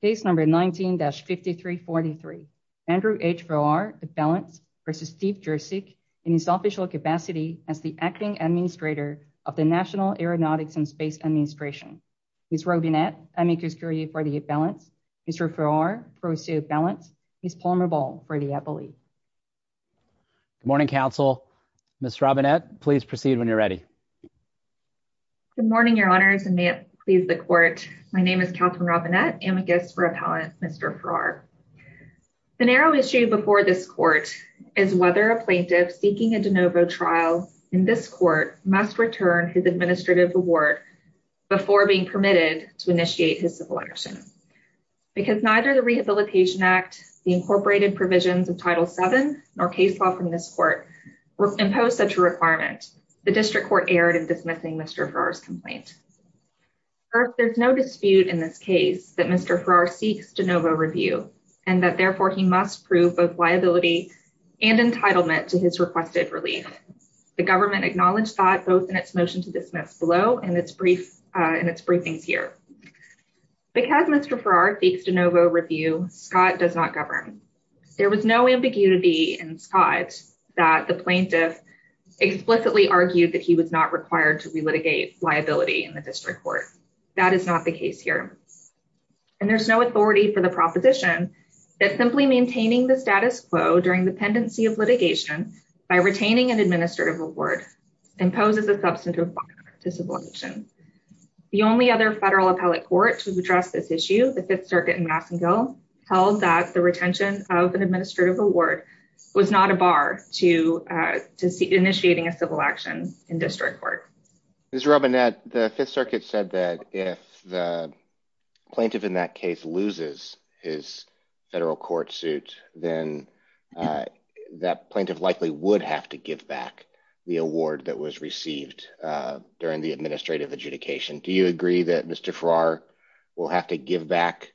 Case number 19-5343. Andrew H. Farrar for the balance versus Steve Jurcyzk in his official capacity as the acting administrator of the National Aeronautics and Space Administration. Ms. Robinette Amikuskuri for the balance. Mr. Farrar for the balance. Ms. Palmer Ball for the appellee. Good morning, counsel. Ms. Robinette, please proceed when you're ready. Good morning, your honors, and may it please the court. My name is Catherine Robinette Amikus for appellant Mr. Farrar. The narrow issue before this court is whether a plaintiff seeking a de novo trial in this court must return his administrative award before being permitted to initiate his civil action. Because neither the Rehabilitation Act, the incorporated provisions of Title VII, nor case law from this court impose such a requirement, the district court erred in this case. There's no dispute in this case that Mr. Farrar seeks de novo review and that therefore he must prove both liability and entitlement to his requested relief. The government acknowledged that both in its motion to dismiss below and in its briefings here. Because Mr. Farrar seeks de novo review, Scott does not govern. There was no ambiguity in Scott that the plaintiff explicitly argued that he was not required to re-litigate liability in the district court. That is not the case here. And there's no authority for the proposition that simply maintaining the status quo during the pendency of litigation by retaining an administrative award imposes a substantive liability to civil action. The only other federal appellate court to address this issue, the Fifth Circuit in Massengill, held that the retention of an administrative award was not a bar to initiating a civil action in district court. Ms. Robinette, the Fifth Circuit said that if the plaintiff in that case loses his federal court suit, then that plaintiff likely would have to give back the award that was received during the administrative adjudication. Do you agree that Mr. Farrar will have to give back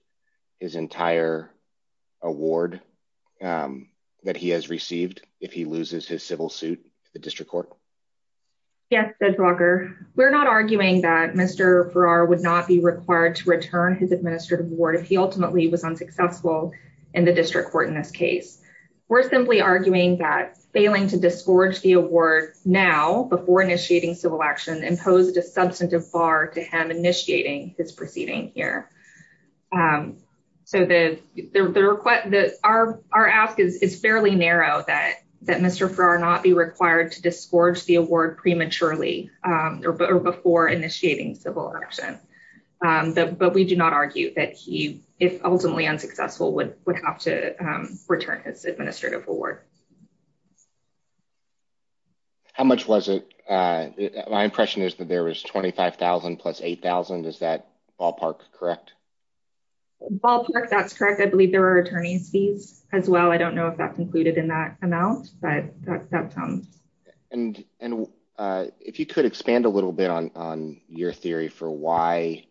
his entire award that he has received if he loses his civil suit to the district court? Yes, Judge Walker. We're not arguing that Mr. Farrar would not be required to return his administrative award if he ultimately was unsuccessful in the district court in this case. We're simply arguing that failing to disgorge the award now before initiating civil action imposed a substantive bar to him initiating his proceeding here. So, our ask is fairly narrow that Mr. Farrar not be required to disgorge the award prematurely or before initiating civil action. But we do not argue that he, if ultimately unsuccessful, would have to return his administrative award. How much was it? My impression is that there was $25,000 plus $8,000. Is that ballpark correct? Ballpark, that's correct. I believe there were attorney's fees as well. I don't know if that concluded in that amount, but that's how it sounds. And if you could expand a little bit on your theory for why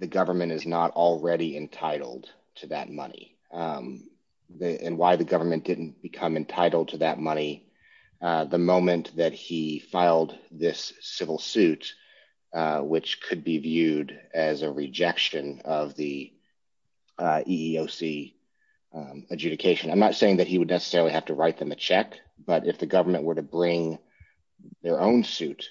the government is not already entitled to that money and why the government didn't become entitled to that money the moment that he filed this civil suit, which could be viewed as a rejection of the EEOC adjudication. I'm not saying that he would necessarily have to write them a check, but if the government were to bring their own suit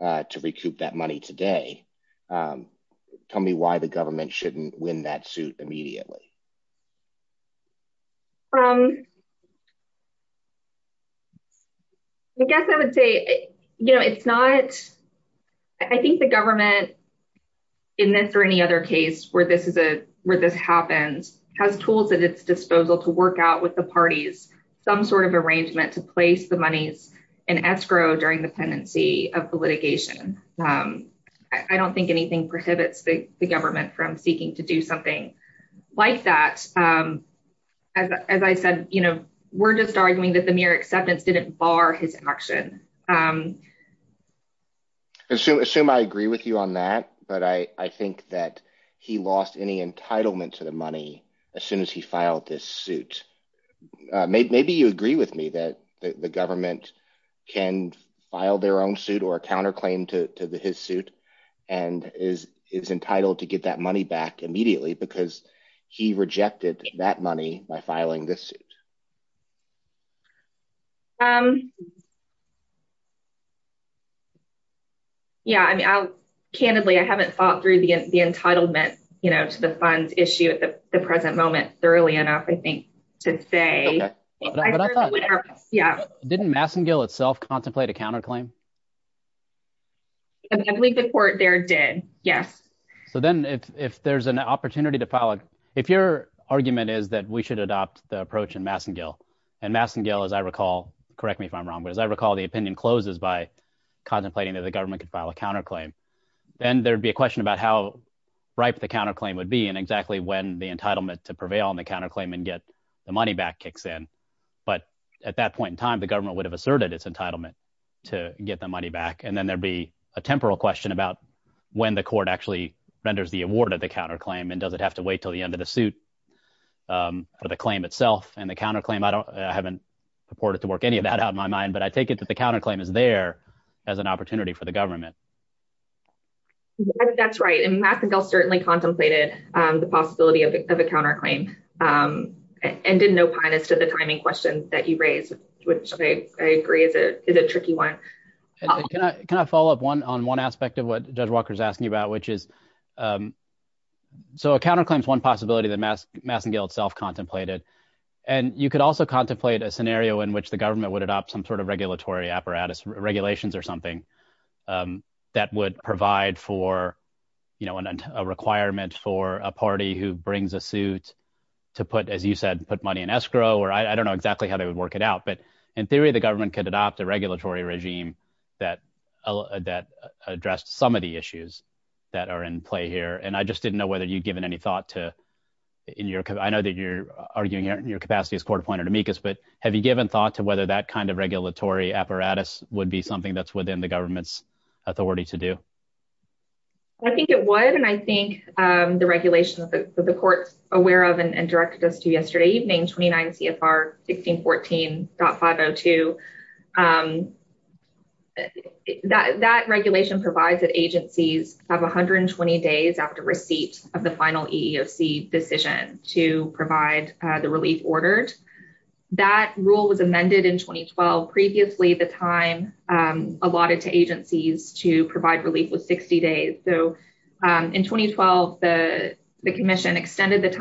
to recoup that money today, tell me why the government shouldn't win that suit immediately. I guess I would say, you know, it's not, I think the government, in this or any other case where this is a, where this happens, has tools at its disposal to work out with the parties some sort of arrangement to place the monies in escrow during the pendency of the litigation. I don't think anything prohibits the government from seeking to do something like that. As I said, you know, we're just arguing that the mere acceptance didn't bar his action. Assume I agree with you on that, but I think that he lost any entitlement to the money as soon as he filed this suit. Maybe you agree with me that the government can file their own suit or a counterclaim to his suit and is entitled to get that money back immediately because he rejected that money by filing this suit. Yeah, I mean, I'll, candidly, I haven't thought through the entitlement, you know, to the funds issue at the present moment thoroughly enough, I think, to say. Yeah. Didn't Massengill itself contemplate a counterclaim? I believe the court there did, yes. So then if there's an opportunity to file, if your argument is that we should adopt the approach in Massengill, and Massengill, as I recall, correct me if I'm wrong, but as I recall, the opinion closes by contemplating that the government could file a counterclaim. Then there'd be a question about how ripe the counterclaim would be and exactly when the entitlement to prevail on the counterclaim and get the money back kicks in. But at that point in time, the government would have asserted its entitlement to get the money back. And then there'd be a temporal question about when the court actually renders the award of the counterclaim and does it have to wait till the end of the suit for the claim itself and the counterclaim. I haven't purported to work any of that out in my mind, but I take it that the counterclaim is there as an opportunity for the government. That's right. And Massengill certainly contemplated the possibility of a counterclaim and didn't opine as to the timing question that you raised, which I agree is a tricky one. Can I follow up on one aspect of what Judge Walker is asking you about, which is so a counterclaim is one possibility that Massengill itself contemplated. And you could also contemplate a scenario in which the government would adopt some sort of regulatory apparatus, regulations or something that would provide for a requirement for a party who brings a suit to put, as you said, put money in escrow, or I don't know exactly how they would work it out. In theory, the government could adopt a regulatory regime that addressed some of the issues that are in play here. And I just didn't know whether you'd given any thought to, I know that you're arguing your capacity as court appointed amicus, but have you given thought to whether that kind of regulatory apparatus would be something that's within the government's authority to do? I think it would. And I think the regulations that the court's aware of and directed us to adopt 502, that regulation provides that agencies have 120 days after receipt of the final EEOC decision to provide the relief ordered. That rule was amended in 2012. Previously, the time allotted to agencies to provide relief was 60 days. So in 2012, the commission extended the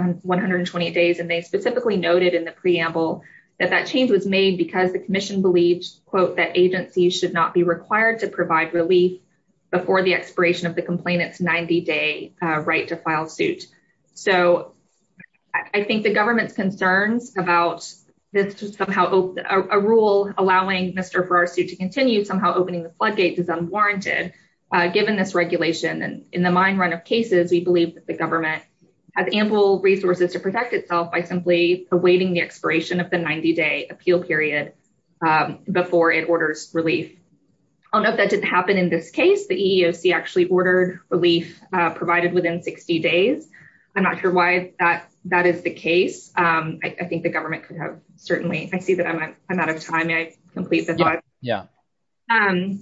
and they specifically noted in the preamble that that change was made because the commission believes, quote, that agencies should not be required to provide relief before the expiration of the complainant's 90 day right to file suit. So I think the government's concerns about this was somehow a rule allowing Mr. Farrar's suit to continue somehow opening the floodgates is unwarranted, given this regulation. And in the mine run of cases, we believe that the government has ample resources to protect itself by simply awaiting the expiration of the 90 day appeal period before it orders relief. I don't know if that didn't happen in this case, the EEOC actually ordered relief provided within 60 days. I'm not sure why that that is the case. I think the government could have certainly I see that I'm out of time. I complete the thought. Yeah. And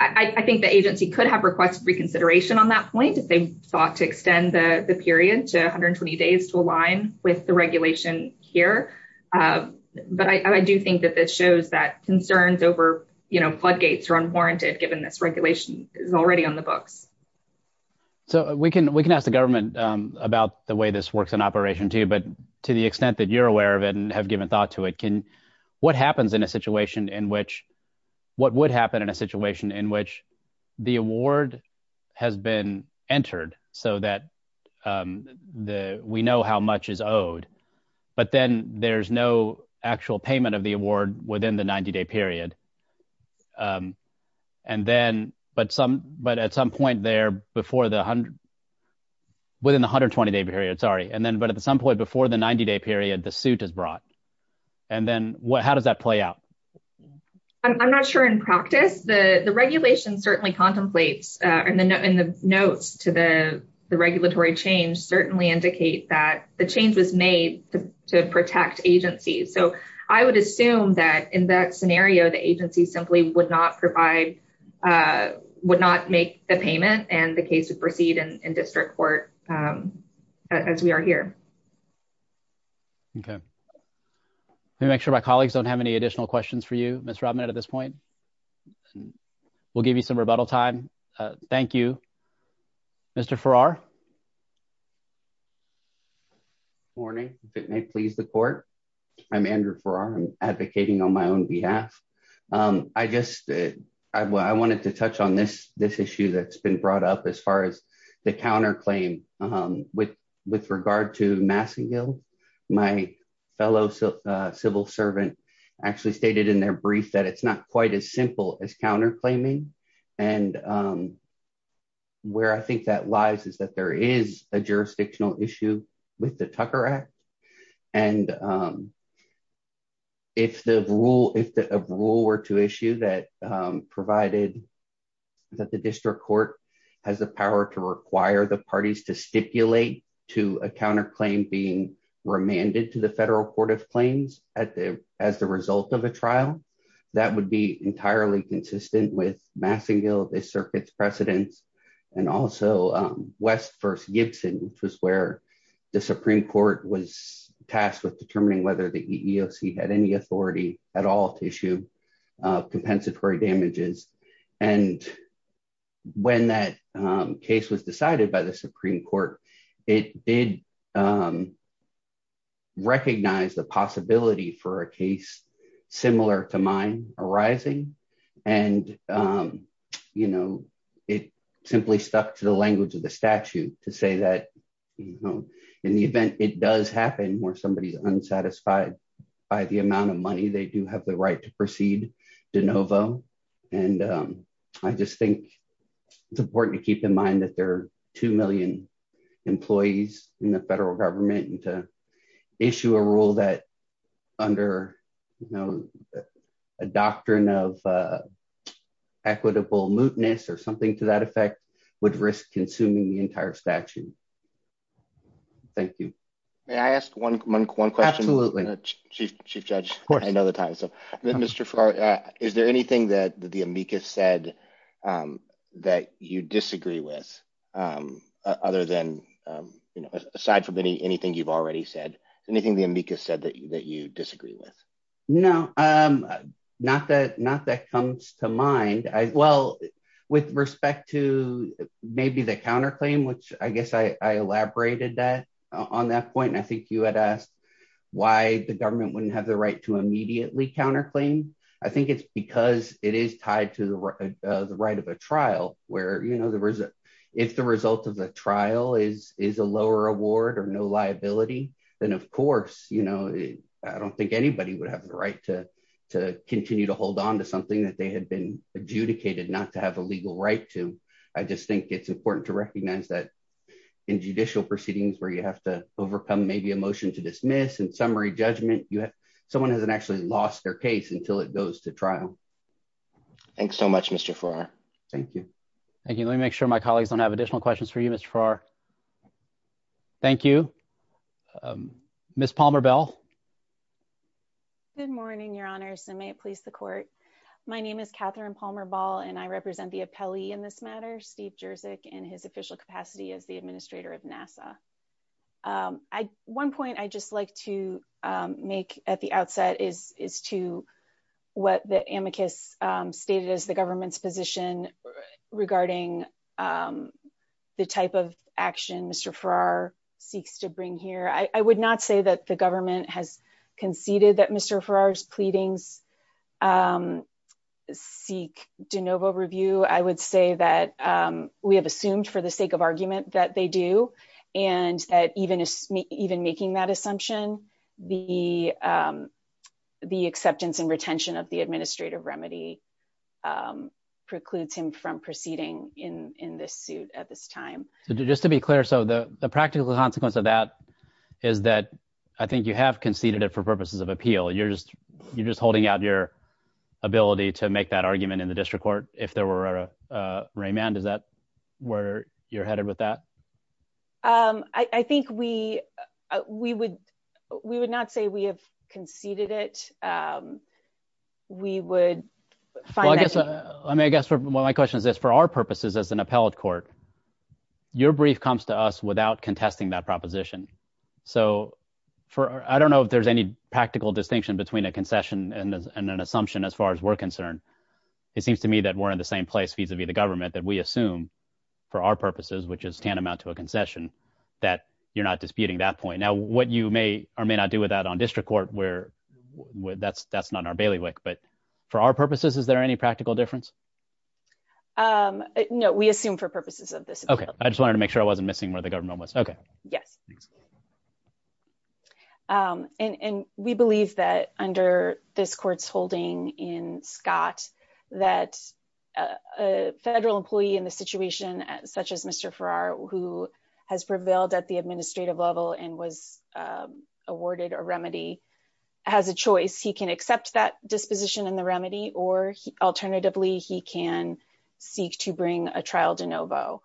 I think the agency could have requested reconsideration on that point if they sought to extend the period to 120 days to align with the regulation here. But I do think that this shows that concerns over, you know, floodgates are unwarranted, given this regulation is already on the books. So we can we can ask the government about the way this works in operation, too. But to the extent that you're aware of it and have given thought to it, can what happens in a in which the award has been entered so that the we know how much is owed, but then there's no actual payment of the award within the 90 day period. And then but some but at some point there before the 100. Within 120 day period, sorry. And then but at some point before the 90 day period, the suit is brought. And then what how does that play out? I'm not sure in practice, the regulation certainly contemplates and the notes to the regulatory change certainly indicate that the change was made to protect agencies. So I would assume that in that scenario, the agency simply would not provide would not make the payment and the case would proceed in district court as we are here. Okay. Let me make sure my colleagues don't have any additional questions for you, Mr. Robinette at this point. We'll give you some rebuttal time. Thank you, Mr. Farrar. Morning, if it may please the court. I'm Andrew Farrar advocating on my own behalf. I just I wanted to touch on this, this issue that's been brought up as far as counterclaim. With with regard to Massengill, my fellow civil servant actually stated in their brief that it's not quite as simple as counterclaiming. And where I think that lies is that there is a jurisdictional issue with the Tucker Act. And if the rule if the rule were to require the parties to stipulate to a counterclaim being remanded to the Federal Court of Claims at the as the result of a trial, that would be entirely consistent with Massengill, the circuit's precedence, and also West v. Gibson, which was where the Supreme Court was tasked with determining whether the EEOC had any authority at all to issue compensatory damages. And when that case was decided by the Supreme Court, it did recognize the possibility for a case similar to mine arising. And, you know, it simply stuck to the language of the statute to say that, you know, in the event it does happen where somebody's think it's important to keep in mind that there are 2 million employees in the federal government and to issue a rule that under, you know, a doctrine of equitable mootness or something to that effect would risk consuming the entire statute. Thank you. May I ask one question? Absolutely. Chief Judge, I know the time. So, Mr. Farrar, is there anything that the amicus said that you disagree with other than, you know, aside from any anything you've already said, anything the amicus said that you disagree with? No, not that not that comes to mind. Well, with respect to maybe the counterclaim, which I guess I elaborated that on that point. And I think you had asked why the government wouldn't have the right to immediately counterclaim. I think it's because it is tied to the right of a trial where, you know, if the result of the trial is a lower award or no liability, then, of course, you know, I don't think anybody would have the right to continue to hold on to something that they had been adjudicated not to have a legal right to. I just think it's important to recognize that in judicial proceedings where you have to overcome maybe a motion to dismiss and summary judgment, someone hasn't actually lost their case until it goes to trial. Thanks so much, Mr. Farrar. Thank you. Thank you. Let me make sure my colleagues don't have additional questions for you, Mr. Farrar. Thank you. Ms. Palmer-Bell. Good morning, your honors, and may it please the court. My name is Catherine Palmer-Ball, and I represent the appellee in this matter, Steve Jerzyk, in his official capacity as the Administrator of NASA. One point I'd just like to make at the outset is to what the amicus stated as the government's position regarding the type of action Mr. Farrar seeks to bring here. I would not say that the government has conceded that Mr. Farrar's pleadings seek de novo review. I would say that we have assumed for the sake of argument that they do, and that even making that assumption, the acceptance and retention of the administrative remedy precludes him from proceeding in this suit at this time. Just to be clear, so the practical consequence of that is that I think you have conceded it for purposes of appeal. You're just holding out your ability to make that argument in remand. Is that where you're headed with that? I think we would not say we have conceded it. We would find that. I guess one of my questions is for our purposes as an appellate court, your brief comes to us without contesting that proposition. So I don't know if there's any practical distinction between a concession and an assumption as far as we're concerned. It seems to me that we're in the same place vis-a-vis the government that we assume for our purposes, which is tantamount to a concession, that you're not disputing that point. Now what you may or may not do with that on district court, that's not in our bailiwick, but for our purposes, is there any practical difference? No, we assume for purposes of this. Okay. I just wanted to make sure I wasn't missing where the government was. Okay. Yes. Thanks. And we believe that under this court's holding in Scott, that a federal employee in the situation such as Mr. Farrar, who has prevailed at the administrative level and was awarded a remedy has a choice. He can accept that disposition in the remedy, or alternatively, he can seek to bring a trial de novo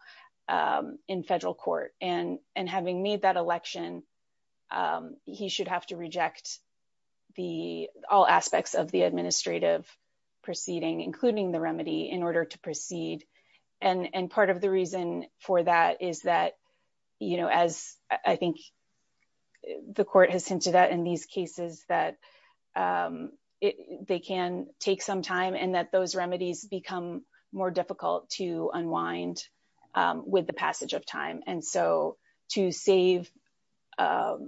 in federal court. And having made that election, he should have to reject all aspects of the administrative proceeding, including the remedy in order to proceed. And part of the reason for that is that, as I think the court has hinted at in these cases that it, they can take some time and that those remedies become more difficult to unwind with the passage of time. And so to save the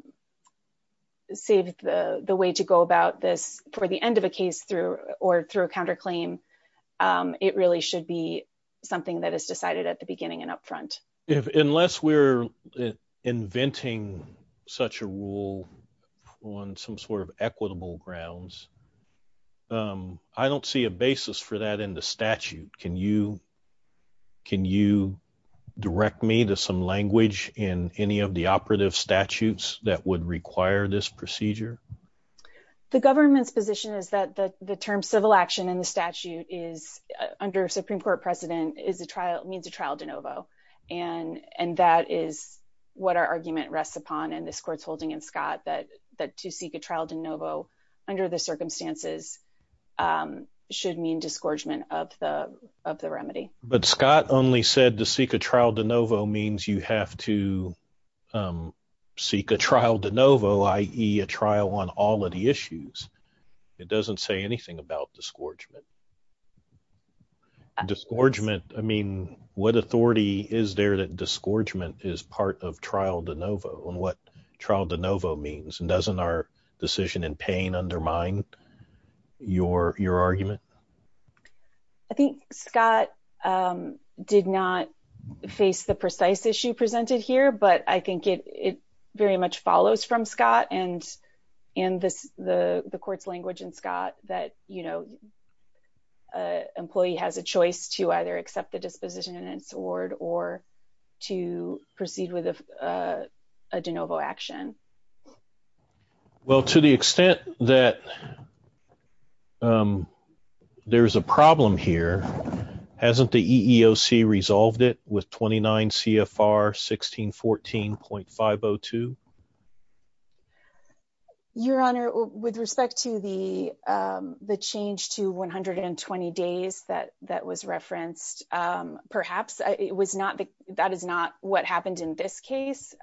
way to go about this for the end of a case through, or through a counterclaim, it really should be something that is decided at the beginning and at the end of the case. I don't see a basis for that in the statute. Can you, can you direct me to some language in any of the operative statutes that would require this procedure? The government's position is that the term civil action in the statute is, under Supreme Court precedent, is a trial, means a trial de novo. And that is what our argument rests upon in this court's holding in Scott that, that to seek a trial de novo under the circumstances should mean disgorgement of the, of the remedy. But Scott only said to seek a trial de novo means you have to seek a trial de novo, i.e. a trial on all of the issues. It doesn't say anything about disgorgement. Disgorgement, I mean, what authority is there that disgorgement is part of trial de novo and what trial de novo means? And doesn't our decision in pain undermine your, your argument? I think Scott did not face the precise issue presented here, but I think it, it very much follows from Scott and, and this, the, the court's language in Scott that, you know, a employee has a choice to either accept the disposition in its award or to proceed with a de novo action. Well, to the extent that there's a problem here, hasn't the EEOC resolved it with 29 CFR 1614.502? Your Honor, with respect to the, the change to 120 days that, that was referenced, perhaps it was not the, that is not what happened in this case.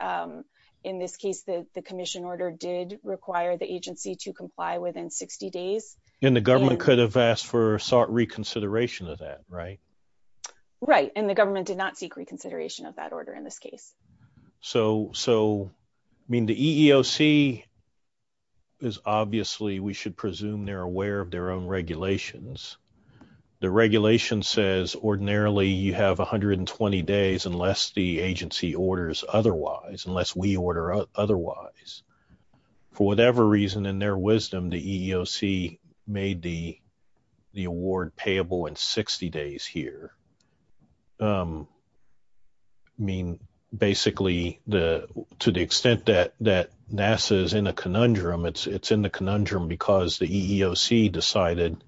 In this case, the commission order did require the agency to comply within 60 days. And the government could have asked for sought reconsideration of that, right? Right. And the government did not seek reconsideration of that order in this case. So, so I mean, the EEOC is obviously, we should presume they're aware of their own regulations. The regulation says ordinarily you have 120 days unless the agency orders otherwise, unless we order otherwise. For whatever reason, in their wisdom, the EEOC made the, the award payable in 60 days here. I mean, basically the, to the extent that, that NASA is in a conundrum, it's, it's in the conundrum because the EEOC decided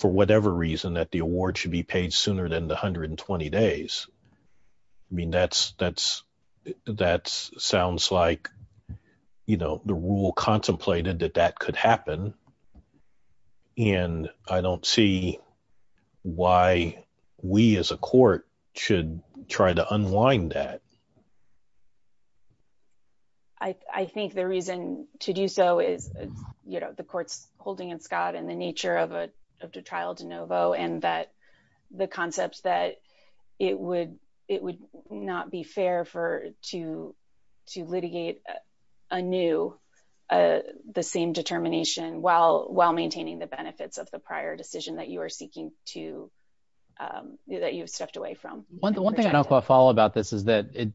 for whatever reason that the award should be paid sooner than the 120 days. I mean, that's, that's, that's sounds like, you know, the rule contemplated that that could happen. And I don't see why we as a court should try to unwind that. I think the reason to do so is, you know, the court's holding in Scott and the nature of a, of the trial de novo, and that the concept that it would, it would not be fair for to, to litigate a new, the same determination while, while maintaining the benefits of the prior decision that you are seeking to, that you've stepped away from. One thing I don't quite follow about this is that it,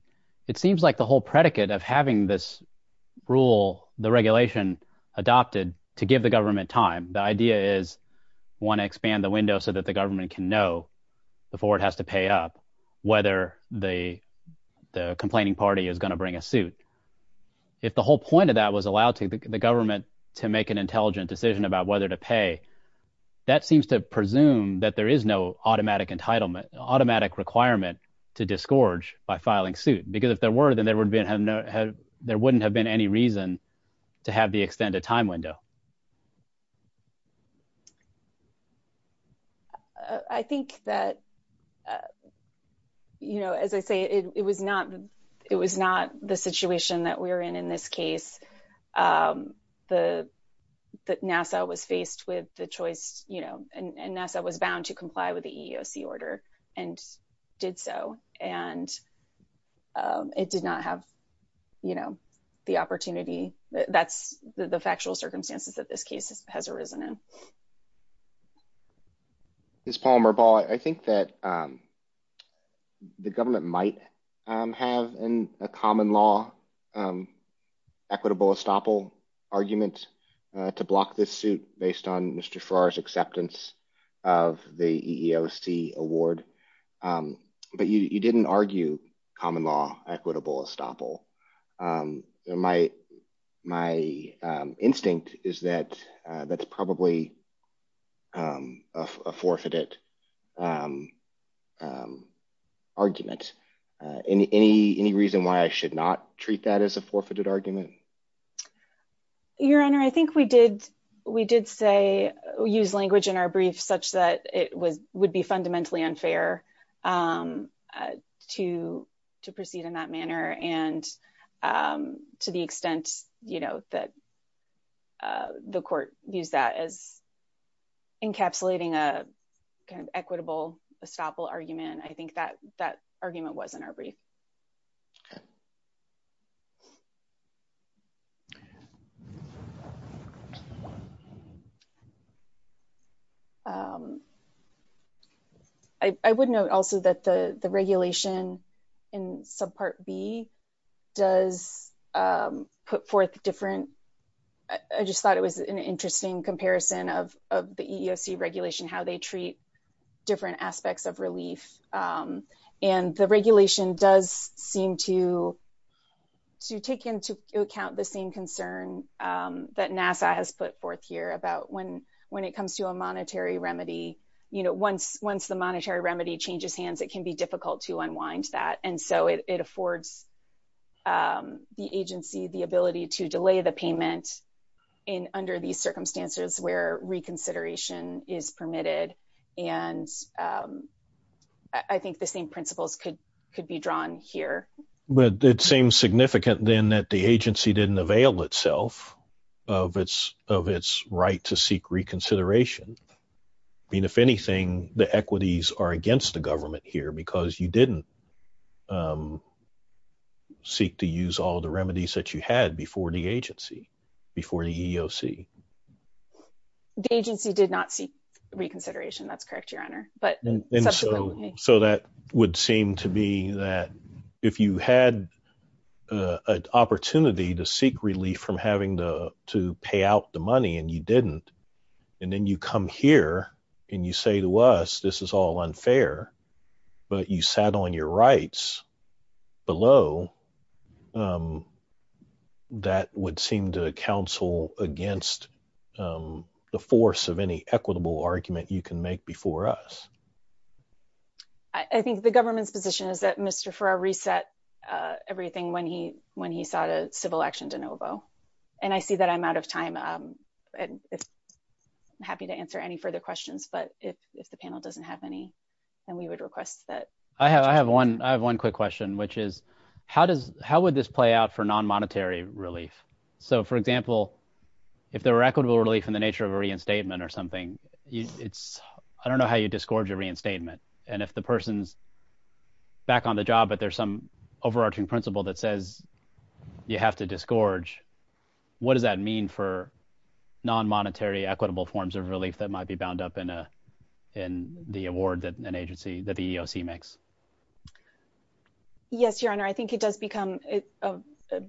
it seems like the whole predicate of having this rule, the regulation adopted to give the government time, the idea is want to expand the window so that the government can know before it has to pay up, whether the, the complaining party is going to bring a suit. If the whole point of that was allowed to the government to make an intelligent decision about whether to pay, that seems to presume that there is no automatic entitlement, automatic requirement to disgorge by filing suit. Because if there were, then there would have no, there wouldn't have been any reason to have the extended time window. I think that, you know, as I say, it was not, it was not the situation that we're in, in this case, the, that NASA was faced with the choice, you know, and NASA was bound to comply with the EEOC and did so. And it did not have, you know, the opportunity that's the factual circumstances that this case has arisen in. Ms. Palmer Ball, I think that the government might have a common law equitable estoppel argument to block this suit based on Mr. Farrar's acceptance of the EEOC award. But you didn't argue common law equitable estoppel. My, my instinct is that that's probably a forfeited argument. Any, any, any reason why I should not treat that as a forfeited argument? Your Honor, I think we did, we did say, use language in our brief such that it was, would be fundamentally unfair to, to proceed in that manner. And to the extent, you know, that the court used that as encapsulating a kind of equitable estoppel argument. I think that, that argument was in our brief. I would note also that the, the regulation in subpart B does put forth different, I just thought it was an interesting comparison of, of the EEOC regulation, how they treat different aspects of relief. And the regulation does seem to, to take into account the same concern that NASA has put forth here about when, when it comes to a monetary remedy, you know, once, once the monetary remedy changes hands, it can be difficult to unwind that. And so it, it affords the agency, the ability to delay the payment in under these circumstances where reconsideration is permitted. And I think the same principles could, could be drawn here. But it seems significant then that the agency didn't avail itself of its, of its right to seek reconsideration. I mean, if anything, the equities are against the government here because you didn't seek to use all the remedies that you had before the agency, before the EEOC. The agency did not seek reconsideration. That's correct, Your Honor. But, And so, so that would seem to be that if you had an opportunity to seek relief from having the, to pay out the money and you didn't, and then you come here and you say to us, this is all unfair, but you sat on your rights below, that would seem to counsel against the force of any equitable argument you can make before us. I think the government's position is that Mr. Farrar reset everything when he, when he sought a civil action de novo. And I see that I'm out of time. I'm happy to answer any further questions, but if, if the panel doesn't have any, then we would request that. I have, I have one, I have one quick question, which is how does, how would this play out for non-monetary relief? So for example, if there were equitable relief in the nature of a reinstatement or something, it's, I don't know how you disgorge a reinstatement. And if the person's back on the job, but there's some overarching principle that says you have to disgorge, what does that mean for non-monetary equitable forms of relief that might be bound up in a, in the award that an agency that the EEOC makes? Yes, your honor. I think it does become a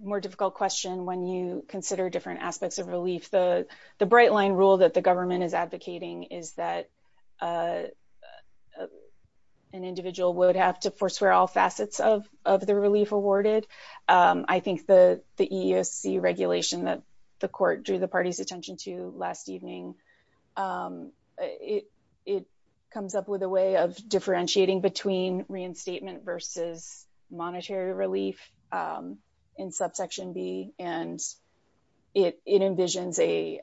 more difficult question when you consider different aspects of relief. The, the bright line rule that the government is advocating is that an individual would have to forswear all facets of, of the relief awarded. I think the, the EEOC regulation that the court drew the party's attention to last evening it, it comes up with a way of differentiating between reinstatement versus monetary relief in subsection B and it, it envisions a,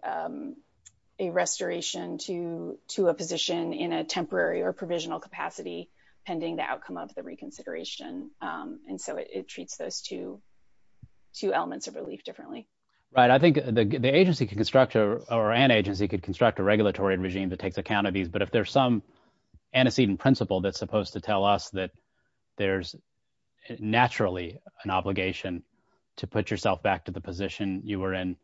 a restoration to, to a position in a temporary or provisional capacity pending the outcome of the reconsideration. And so it treats those two, two elements of relief differently. Right. I think the, the agency can construct or an agency could construct a regulatory regime that takes account of these, but if there's some antecedent principle that's supposed to tell us that there's naturally an obligation to put yourself back to the position you were in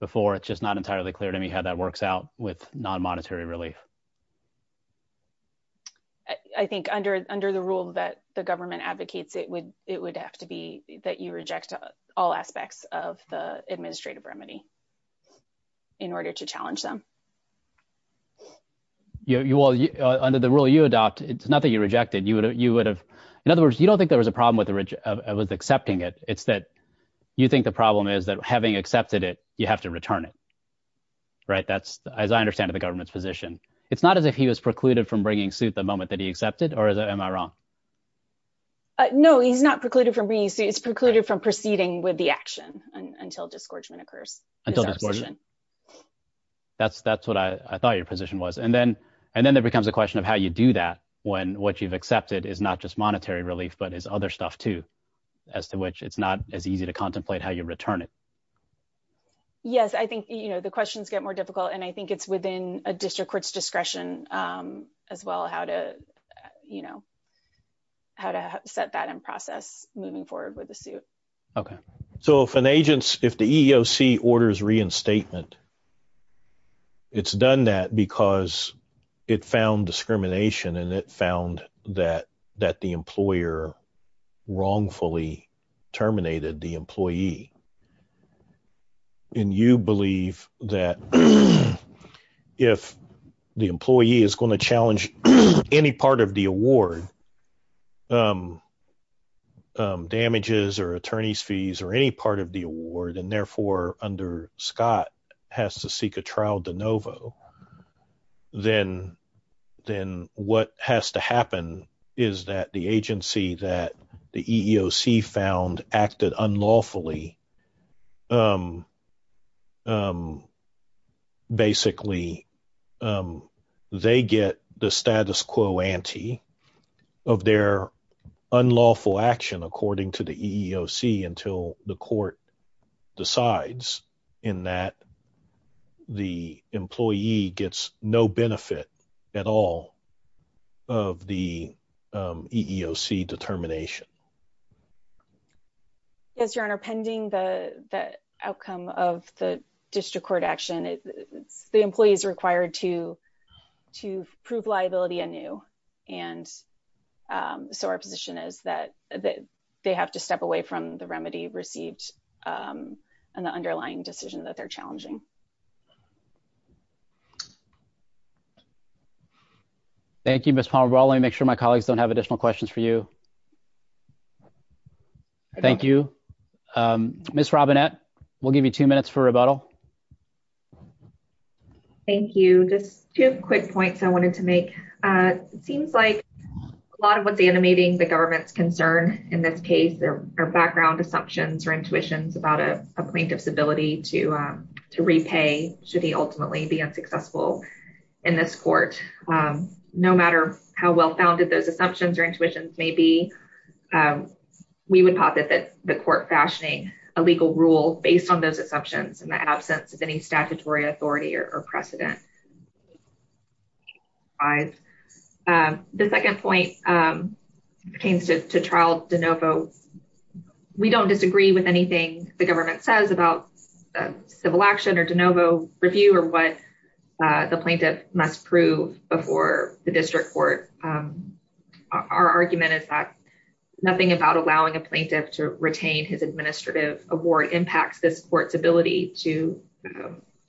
before, it's just not entirely clear to me how that works out with non-monetary relief. I think under, under the rule that the government advocates, it would, it would have to be that you reject all aspects of the administrative remedy in order to challenge them. Yeah. You all under the rule you adopt, it's not that you rejected, you would have, you would have, in other words, you don't think there was a problem with the rich, with accepting it. It's that you think the problem is that having accepted it, you have to return it. Right. That's as I understand it, the government's position. It's not as if he was precluded from bringing suit the moment that he accepted, or is that, am I wrong? No, he's not precluded from bringing suit. It's precluded from proceeding with the action until disgorgement occurs. Until disgorgement. That's, that's what I, I thought your position was. And then, and then it becomes a question of how you do that when what you've accepted is not just monetary relief, but is other stuff too, as to which it's not as easy to contemplate how you return it. Yes. I think, you know, the questions get more difficult and I think it's within a district court's discretion as well, how to, you know, how to set that in process moving forward with the suit. Okay. So if an agent's, if the EEOC orders reinstatement, it's done that because it found discrimination and it found that, that the employer wrongfully terminated the employee. And you believe that if the employee is going to challenge any part of the award, damages or attorney's fees or any part of the award, and therefore under Scott has to seek a trial de novo, then, then what has to happen is that the agency that the EEOC found acted unlawfully basically they get the status quo ante of their unlawful action, according to the EEOC until the court decides in that the employee gets no benefit at all of the EEOC determination. Yes, your honor, pending the outcome of the district court action, it's the employees required to, to prove liability anew. And so our position is that they have to step away from the remedy received and the underlying decision that they're challenging. Thank you, Ms. Palmer. Well, let me make sure my colleagues don't have additional questions for you. Thank you. Ms. Robinette, we'll give you two minutes for rebuttal. Thank you. Just two quick points I wanted to make. It seems like a lot of what's animating the government's concern in this case, their background assumptions or intuitions about a plaintiff's ability to, to repay should he ultimately be unsuccessful in this court. No matter how well-founded those assumptions or intuitions may be, we would posit that the court fashioning a legal rule based on those assumptions in the absence of any statutory authority or precedent. The second point pertains to trial de novo. We don't disagree with anything the government says about civil action or de novo review or what the plaintiff must prove before the district court. Our argument is that nothing about allowing a plaintiff to retain his administrative award impacts this court's ability to,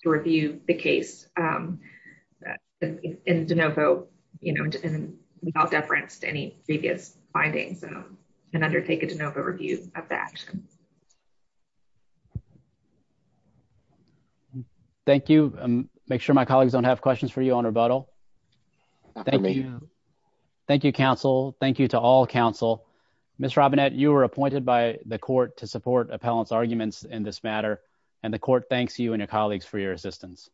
to review the case in de novo, you know, without deference to any previous findings and undertake a de novo review of that. Thank you. Make sure my colleagues don't have questions for you on rebuttal. Thank you, counsel. Thank you to all counsel. Ms. Robinette, you were appointed by the court to support appellants arguments in this matter and the court thanks you and your colleagues for your assistance.